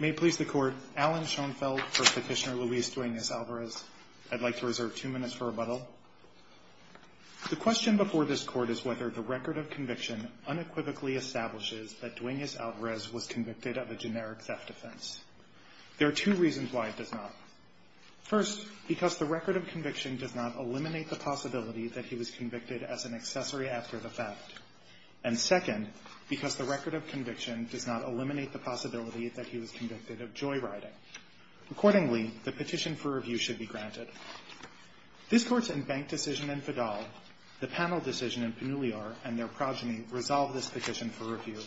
May it please the court, Alan Schoenfeld for Petitioner Luis Duenas-Alvarez. I'd like to reserve two minutes for rebuttal. The question before this court is whether the record of conviction unequivocally establishes that Duenas-Alvarez was convicted of a generic theft offense. There are two reasons why it does not. First, because the record of conviction does not eliminate the possibility that he was convicted as an accessory after the theft. And second, because the record of conviction does not eliminate the possibility that he was convicted of joyriding. Accordingly, the petition for review should be granted. This court's in-bank decision in Fidal, the panel decision in Pinuliar, and their progeny resolve this petition for review.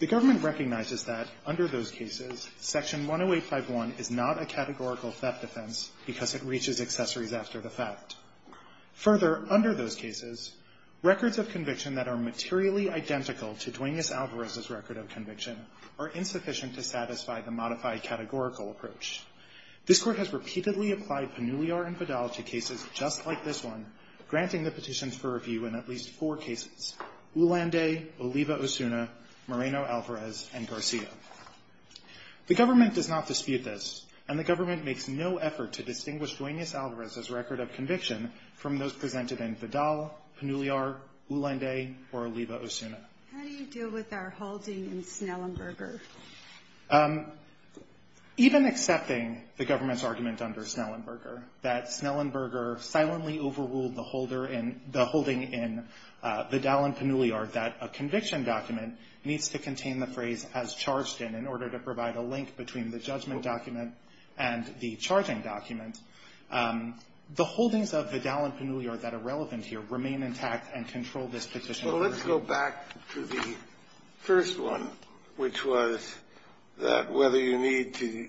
The government recognizes that, under those cases, Section 10851 is not a categorical theft offense because it reaches accessories after the theft. Further, under those cases, records of conviction that are materially identical to Duenas-Alvarez's record of conviction are insufficient to satisfy the modified categorical approach. This court has repeatedly applied Pinuliar and Fidal to cases just like this one, granting the petitions for review in at least four cases. Ulanday, Oliva Osuna, Moreno-Alvarez, and Garcia. The government does not dispute this, and the government makes no effort to distinguish Duenas-Alvarez's record of conviction from those presented in Fidal, Pinuliar, Ulanday, or Oliva Osuna. How do you deal with our holding in Snellenberger? Even accepting the government's argument under Snellenberger that Snellenberger silently overruled the holder in the holding in Fidal and Pinuliar that a conviction document needs to contain the phrase, as charged in, in order to provide a link between the judgment document and the charging document, the holdings of Fidal and Pinuliar that are relevant here remain intact and control this petition? So let's go back to the first one, which was that whether you need to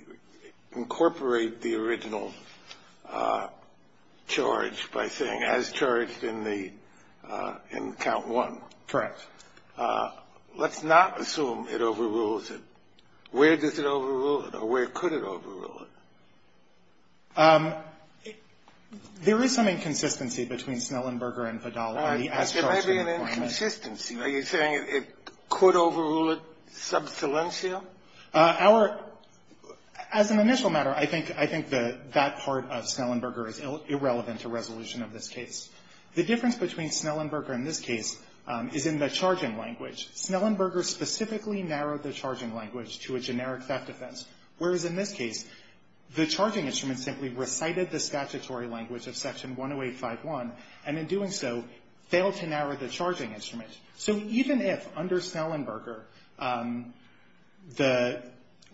incorporate the original charge by saying, as charged in the, in count one. Correct. Let's not assume it overrules it. Where does it overrule it, or where could it overrule it? There is some inconsistency between Snellenberger and Fidal on the as-charged requirement. There may be an inconsistency. Are you saying it could overrule it sub salientia? Our — as an initial matter, I think that that part of Snellenberger is irrelevant to resolution of this case. The difference between Snellenberger in this case is in the charging language. Snellenberger specifically narrowed the charging language to a generic theft offense, whereas in this case, the charging instrument simply recited the statutory language of Section 108.5.1, and in doing so, failed to narrow the charging instrument. So even if under Snellenberger, the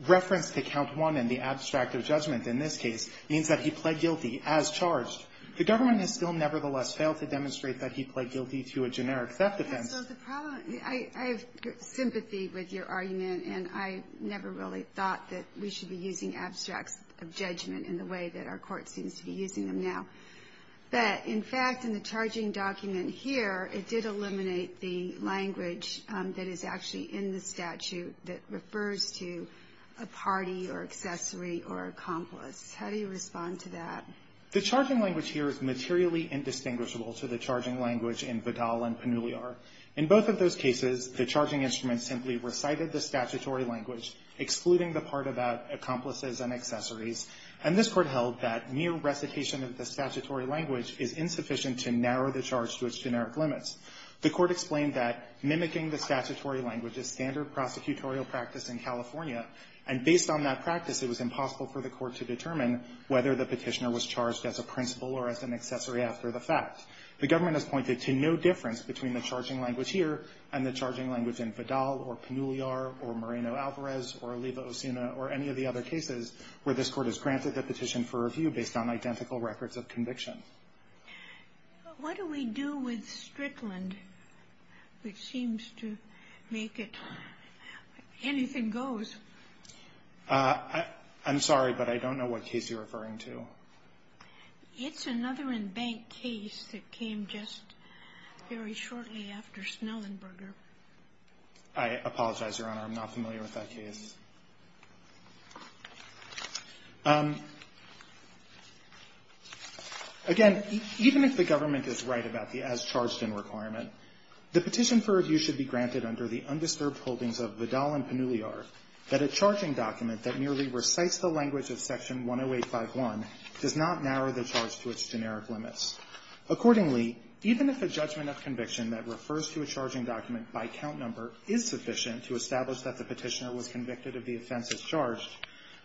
reference to count one and the abstract of judgment in this case means that he pled guilty as charged, the government has still nevertheless failed to demonstrate that he pled guilty to a generic theft offense. So the problem — I have sympathy with your argument, and I never really thought that we should be using abstracts of judgment in the way that our Court seems to be using them now. But in fact, in the charging document here, it did eliminate the language that is actually in the statute that refers to a party or accessory or accomplice. How do you respond to that? The charging language here is materially indistinguishable to the charging language in Vidal and Panuliar. In both of those cases, the charging instrument simply recited the statutory language, excluding the part about accomplices and accessories, and this Court held that mere recitation of the statutory language is insufficient to narrow the charge to its generic limits. The Court explained that mimicking the statutory language is standard prosecutorial practice in California, and based on that practice, it was impossible for the Court to determine whether the Petitioner was charged as a principal or as an accessory after the fact. The government has pointed to no difference between the charging language here and the charging language in Vidal or Panuliar or Moreno-Alvarez or Oliva-Osuna or any of the other cases where this Court has granted the petition for review based on identical records of conviction. But what do we do with Strickland, which seems to make it anything goes? I'm sorry, but I don't know what case you're referring to. It's another embanked case that came just very shortly after Snellenberger. I apologize, Your Honor. I'm not familiar with that case. Again, even if the government is right about the as-charged-in requirement, the petition for review should be granted under the undisturbed holdings of Vidal and Panuliar that a charging document that merely recites the language of Section 108.5.1 does not narrow the charge to its generic limits. Accordingly, even if a judgment of conviction that refers to a charging document by count number is sufficient to establish that the Petitioner was convicted of the offense as charged,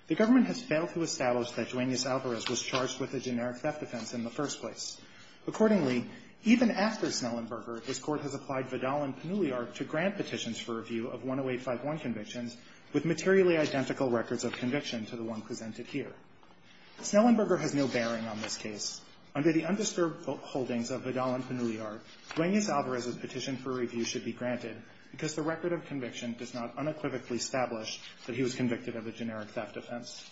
the government has failed to establish that Duenas-Alvarez was charged with a generic theft offense in the first place. Accordingly, even after Snellenberger, this Court has applied Vidal and Panuliar to grant petitions for review of 108.5.1 convictions with materially identical records of conviction to the one presented here. Snellenberger has no bearing on this case. Under the undisturbed holdings of Vidal and Panuliar, Duenas-Alvarez's petition for review should be granted because the record of conviction does not unequivocally establish that he was convicted of a generic theft offense.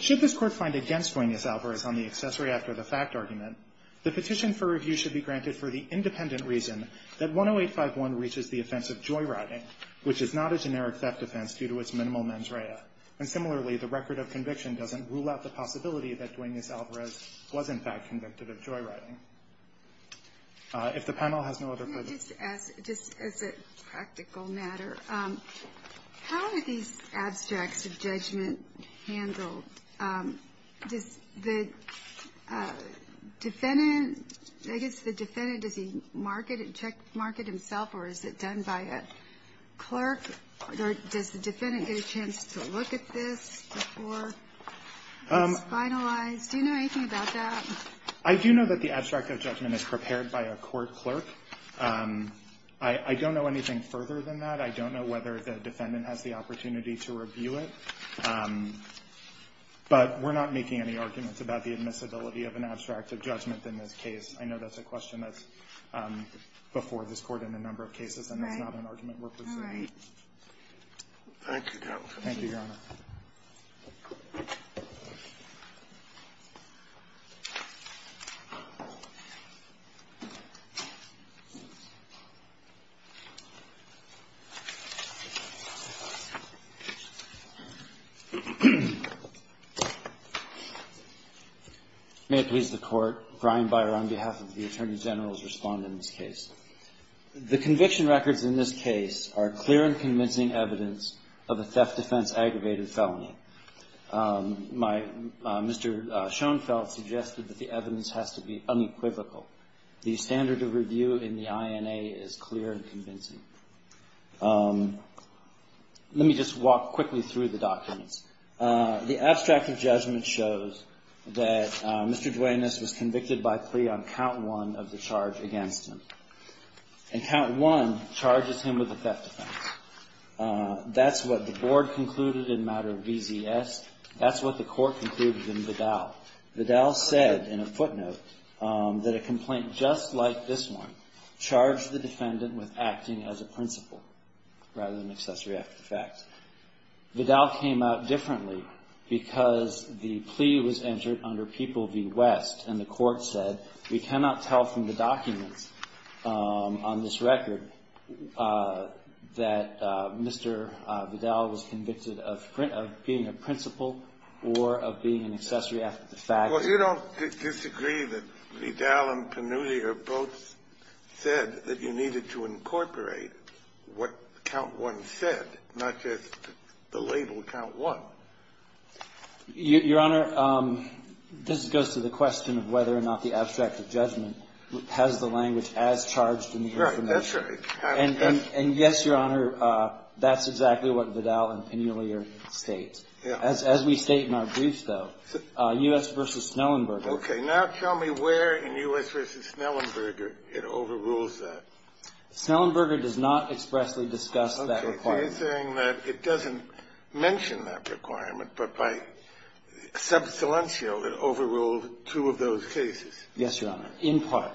Should this Court find against Duenas-Alvarez on the accessory-after-the-fact argument, the petition for review should be granted for the independent reason that 108.5.1 reaches the offense of joyriding, which is not a generic theft offense due to its minimal mens rea. And similarly, the record of conviction doesn't rule out the possibility that Duenas-Alvarez was, in fact, convicted of joyriding. If the panel has no other questions. Can I just ask, just as a practical matter, how are these abstracts of judgment handled? Does the defendant, I guess the defendant, does he checkmark it himself or is it done by a clerk? Or does the defendant get a chance to look at this before it's finalized? Do you know anything about that? I do know that the abstract of judgment is prepared by a court clerk. I don't know anything further than that. I don't know whether the defendant has the opportunity to review it. But we're not making any arguments about the admissibility of an abstract of judgment in this case. I know that's a question that's before this Court in a number of cases, and that's not an argument we're pursuing. All right. Thank you, counsel. Thank you, Your Honor. May it please the Court. Brian Beyer on behalf of the Attorney General to respond in this case. The conviction records in this case are clear and convincing evidence of a theft defense aggravated felony. My Mr. Schoenfeld suggested that the evidence has to be unequivocal. The standard of review in the INA is clear and convincing. Let me just walk quickly through the documents. The abstract of judgment shows that Mr. Duenas was convicted by plea on count one of the charge against him. And count one charges him with a theft offense. That's what the Board concluded in matter of VZS. That's what the Court concluded in Vidal. Vidal said in a footnote that a complaint just like this one charged the defendant with acting as a principal rather than accessory after the fact. Vidal came out differently because the plea was entered under People v. West, and the Mr. Vidal was convicted of being a principal or of being an accessory after the fact. Well, you don't disagree that Vidal and Panuti have both said that you needed to incorporate what count one said, not just the label count one. Your Honor, this goes to the question of whether or not the abstract of judgment has the language as charged in the information. That's right. And yes, Your Honor, that's exactly what Vidal and Penelier state. As we state in our briefs, though, U.S. v. Snellenberger. Okay. Now tell me where in U.S. v. Snellenberger it overrules that. Snellenberger does not expressly discuss that requirement. Okay. It's answering that it doesn't mention that requirement, but by sub silencio it overruled two of those cases. Yes, Your Honor, in part.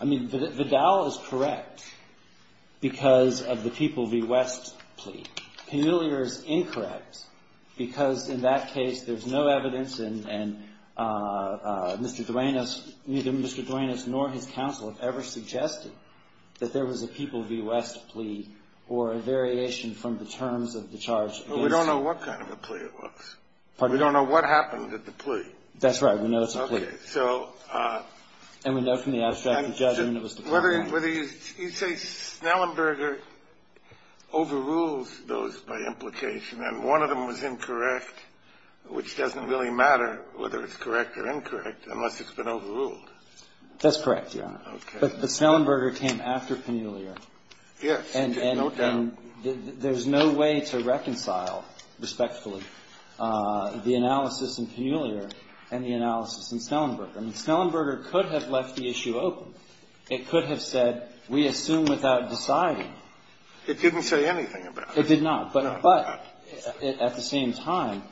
I mean, Vidal is correct because of the people v. West plea. Penelier is incorrect because in that case there's no evidence and Mr. Duenas neither Mr. Duenas nor his counsel have ever suggested that there was a people v. West plea or a variation from the terms of the charge. We don't know what kind of a plea it was. We don't know what happened at the plea. That's right. We know it's a plea. Okay. And so we know from the abstract judgment it was the plea. You say Snellenberger overrules those by implication and one of them was incorrect, which doesn't really matter whether it's correct or incorrect unless it's been overruled. That's correct, Your Honor. Okay. But Snellenberger came after Penelier. Yes. And there's no way to reconcile respectfully the analysis in Penelier and the analysis in Snellenberger. I mean, Snellenberger could have left the issue open. It could have said, we assume without deciding. It didn't say anything about it. It did not. No, it did not. But at the same time,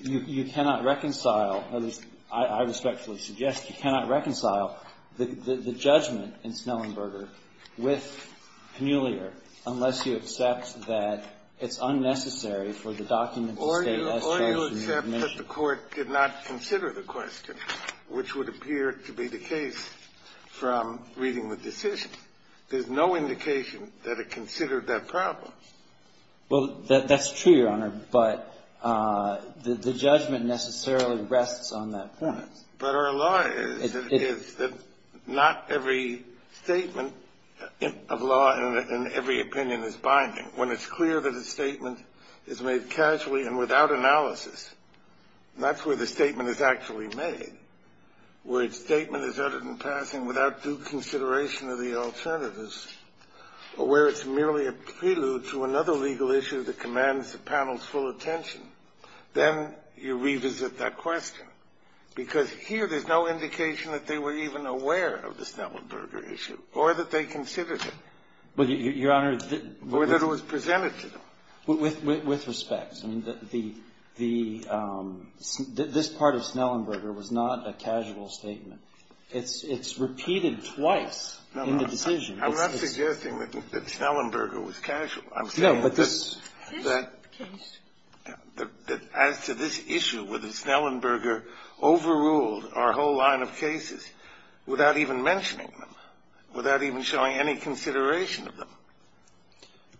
you cannot reconcile, or as I respectfully suggest, you cannot reconcile the judgment in Snellenberger with Penelier unless you accept that it's unnecessary for the document to state S charges. I do accept that the Court did not consider the question, which would appear to be the case from reading the decision. There's no indication that it considered that problem. Well, that's true, Your Honor, but the judgment necessarily rests on that point. But our law is that not every statement of law and every opinion is binding. When it's clear that a statement is made casually and without analysis, and that's where the statement is actually made, where a statement is uttered in passing without due consideration of the alternatives, or where it's merely a prelude to another legal issue that commands the panel's full attention, then you revisit that question. Because here there's no indication that they were even aware of the Snellenberger issue or that they considered it. Well, Your Honor, the — Or that it was presented to them. With respect, I mean, the — this part of Snellenberger was not a casual statement. It's repeated twice in the decision. No, no. I'm not suggesting that Snellenberger was casual. I'm saying that — No, but this case — That as to this issue, whether Snellenberger overruled our whole line of cases without even mentioning them, without even showing any consideration of them.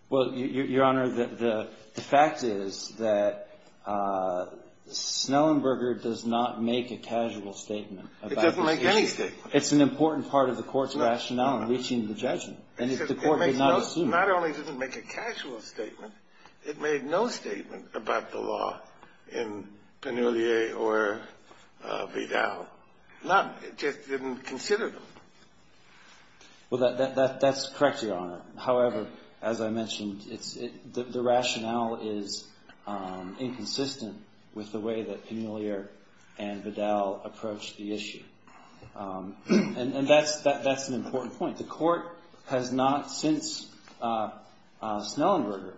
Well, Your Honor, the fact is that Snellenberger does not make a casual statement about this issue. It doesn't make any statement. It's an important part of the Court's rationale in reaching the judgment. And if the Court did not assume it — Not only did it make a casual statement, it made no statement about the law in Penelier or Vidal. Not even considered them. Well, that's correct, Your Honor. However, as I mentioned, it's — the rationale is inconsistent with the way that Penelier and Vidal approached the issue. And that's an important point. The Court has not since Snellenberger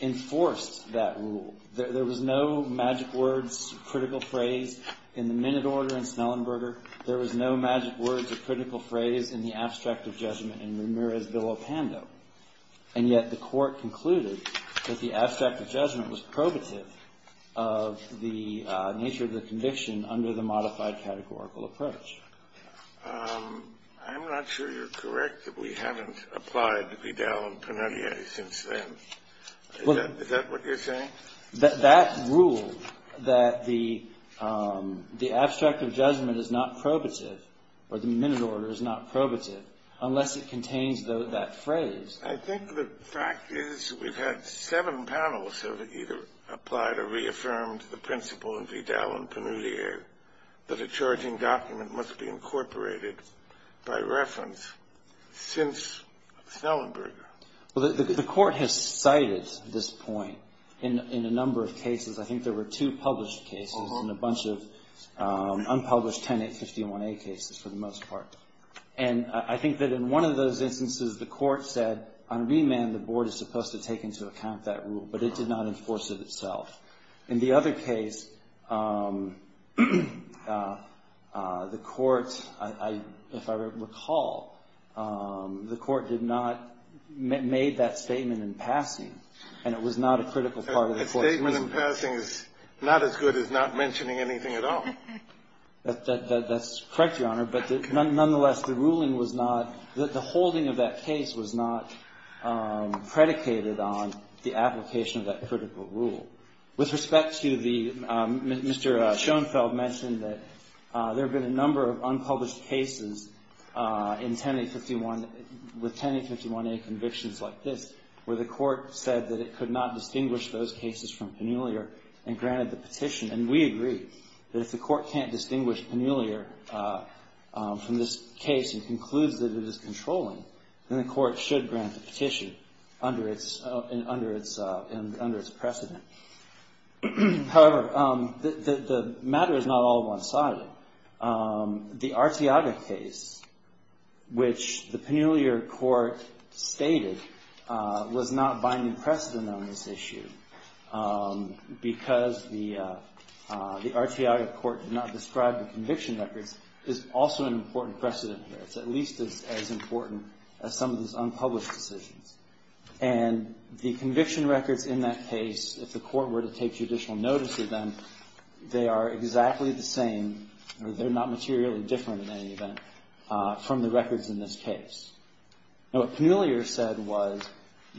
enforced that rule. There was no magic words, critical phrase in the minute order in Snellenberger. There was no magic words or critical phrase in the abstract of judgment in Ramirez v. Lopando. And yet the Court concluded that the abstract of judgment was probative of the nature of the conviction under the modified categorical approach. I'm not sure you're correct that we haven't applied Vidal and Penelier since then. Is that what you're saying? That rule, that the abstract of judgment is not probative, or the minute order is not probative, unless it contains that phrase. I think the fact is we've had seven panels have either applied or reaffirmed the principle in Vidal and Penelier that a charging document must be incorporated by reference since Snellenberger. Well, the Court has cited this point in a number of cases. I think there were two published cases and a bunch of unpublished 10-851-A cases for the most part. And I think that in one of those instances the Court said on remand the Board is supposed to take into account that rule, but it did not enforce it itself. In the other case, the Court, if I recall, the Court did not make that statement in passing, and it was not a critical part of the Court's ruling. A statement in passing is not as good as not mentioning anything at all. That's correct, Your Honor, but nonetheless the ruling was not, the holding of that case was not predicated on the application of that critical rule. With respect to the Mr. Schoenfeld mentioned that there have been a number of unpublished cases in 10-851, with 10-851-A convictions like this where the Court said that it could not distinguish those cases from Penelier and granted the petition. And we agree that if the Court can't distinguish Penelier from this case and concludes that it is controlling, then the Court should grant the petition under its precedent. However, the matter is not all one-sided. The Arteaga case, which the Penelier Court stated was not binding precedent on this issue because the Arteaga Court did not describe the conviction records, is also an important precedent there. It's at least as important as some of these unpublished decisions. And the conviction records in that case, if the Court were to take judicial notice of them, they are exactly the same or they're not materially different in any event from the records in this case. Now, what Penelier said was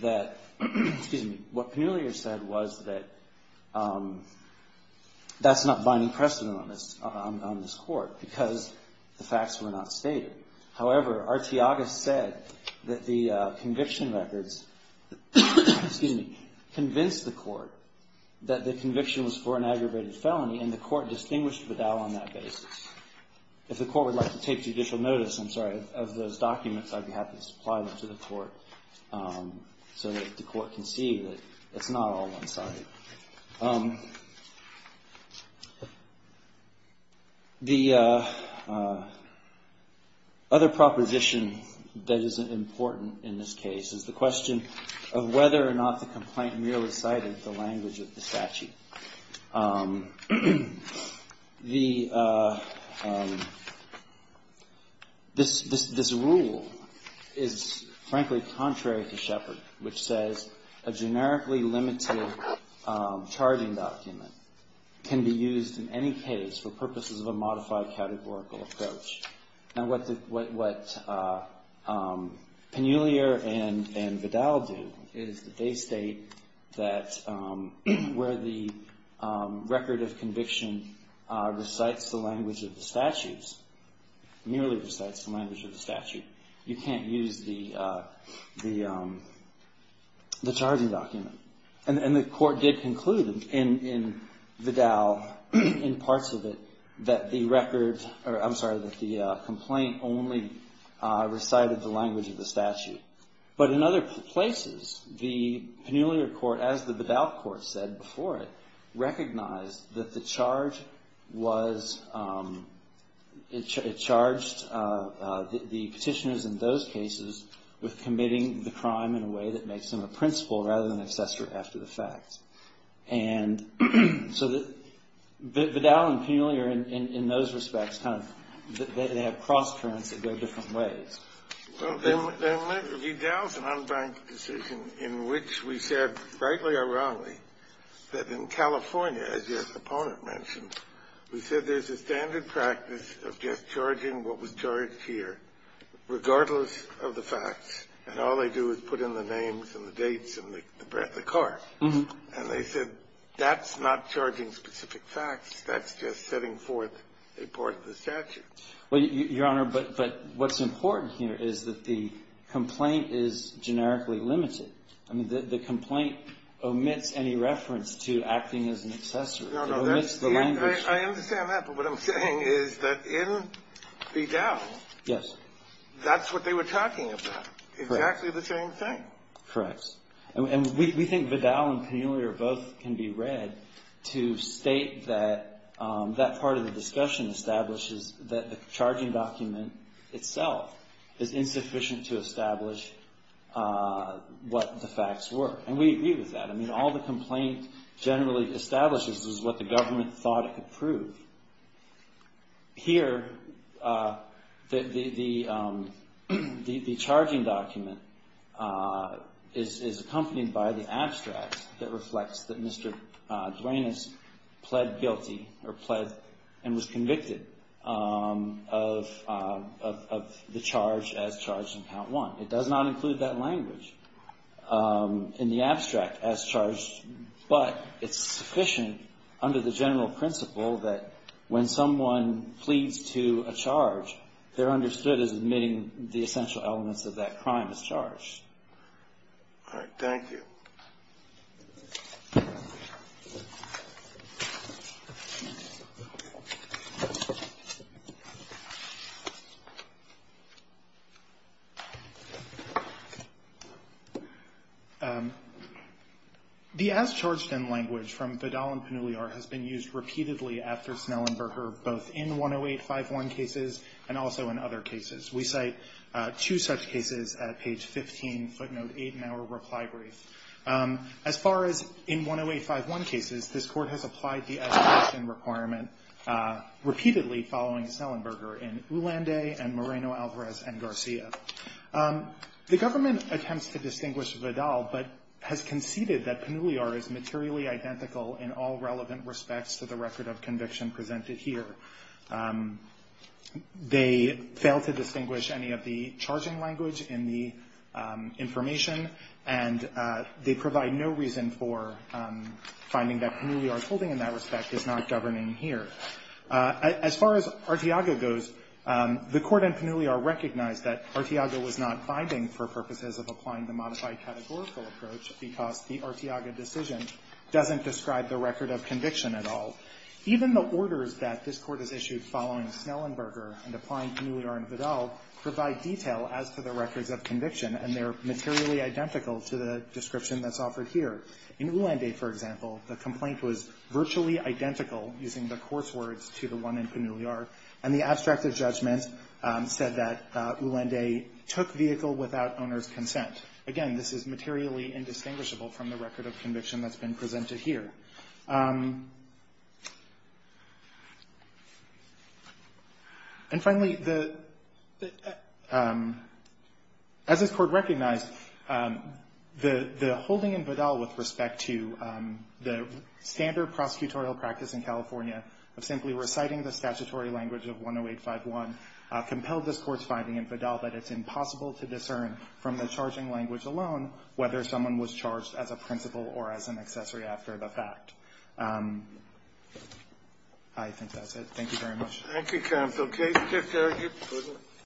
that, excuse me, what Penelier said was that that's not binding precedent on this Court because the facts were not stated. However, Arteaga said that the conviction records, excuse me, convinced the Court that the conviction was for an aggravated felony and the Court distinguished Bedell on that basis. If the Court would like to take judicial notice, I'm sorry, of those documents, I'd be happy to supply them to the Court so that the Court can see that it's not all one-sided. The other proposition that is important in this case is the question of whether or not the complaint merely cited the language of the statute. This rule is, frankly, contrary to Shepard, which says a generically limited charging document can be used in any case for purposes of a modified categorical approach. Now, what Penelier and Bedell did is that they state that where the record of conviction recites the language of the statutes, merely recites the language of the statute, you can't use the charging document. And the Court did conclude in Bedell, in parts of it, that the record, or I'm sorry, that the complaint only recited the language of the statute. But in other places, the Penelier Court, as the Bedell Court said before it, recognized that the charge was, it charged the Petitioners in those cases with committing the crime in a way that makes them a principal rather than an accessory after the fact. And so Bedell and Penelier, in those respects, kind of, they have cross-currents that go different ways. Kennedy. Well, then, if you doubt an unbanked decision in which we said, rightly or wrongly, that in California, as your opponent mentioned, we said there's a standard practice of just charging what was charged here regardless of the facts, and all they do is put in the names and the dates and the card. And they said, that's not charging specific facts. That's just setting forth a part of the statute. Well, Your Honor, but what's important here is that the complaint is generically limited. I mean, the complaint omits any reference to acting as an accessory. It omits the language. I understand that. But what I'm saying is that in Bedell, that's what they were talking about. Correct. It's exactly the same thing. Correct. And we think Bedell and Penelier both can be read to state that that part of the discussion establishes that the charging document itself is insufficient to establish what the facts were. And we agree with that. I mean, all the complaint generally establishes is what the government thought it could prove. Here, the charging document is accompanied by the abstract that reflects that Mr. Duenas pled guilty or pled and was convicted of the charge as charged in Count 1. It does not include that language in the abstract as charged, but it's sufficient under the assumption that when someone pleads to a charge, they're understood as admitting the essential elements of that crime as charged. All right. Thank you. The as charged in language from Bedell and Penelier has been used repeatedly after Snell and Berger, both in 10851 cases and also in other cases. We cite two such cases at page 15, footnote 8 in our reply brief. As far as in 10851 cases, this Court has applied the as charged in requirement repeatedly following Snell and Berger in Ulanday and Moreno, Alvarez, and Garcia. The government attempts to distinguish Bedell, but has conceded that Penelier is materially identical in all relevant respects to the record of conviction presented here. They fail to distinguish any of the charging language in the information, and they provide no reason for finding that Penelier's holding in that respect is not governing here. As far as Arteaga goes, the Court in Penelier recognized that Arteaga was not binding for purposes of applying the modified categorical approach because the Arteaga decision doesn't describe the record of conviction at all. Even the orders that this Court has issued following Snell and Berger and applying Penelier and Bedell provide detail as to the records of conviction, and they're materially identical to the description that's offered here. In Ulanday, for example, the complaint was virtually identical, using the course words, to the one in Penelier, and the abstract of judgment said that Ulanday took vehicle without owner's consent. Again, this is materially indistinguishable from the record of conviction that's been issued. And finally, as this Court recognized, the holding in Bedell with respect to the standard prosecutorial practice in California of simply reciting the statutory language of 10851 compelled this Court's finding in Bedell that it's impossible to discern from the charging language alone whether someone was charged as a principal or as an I think that's it. Thank you very much. Thank you, counsel.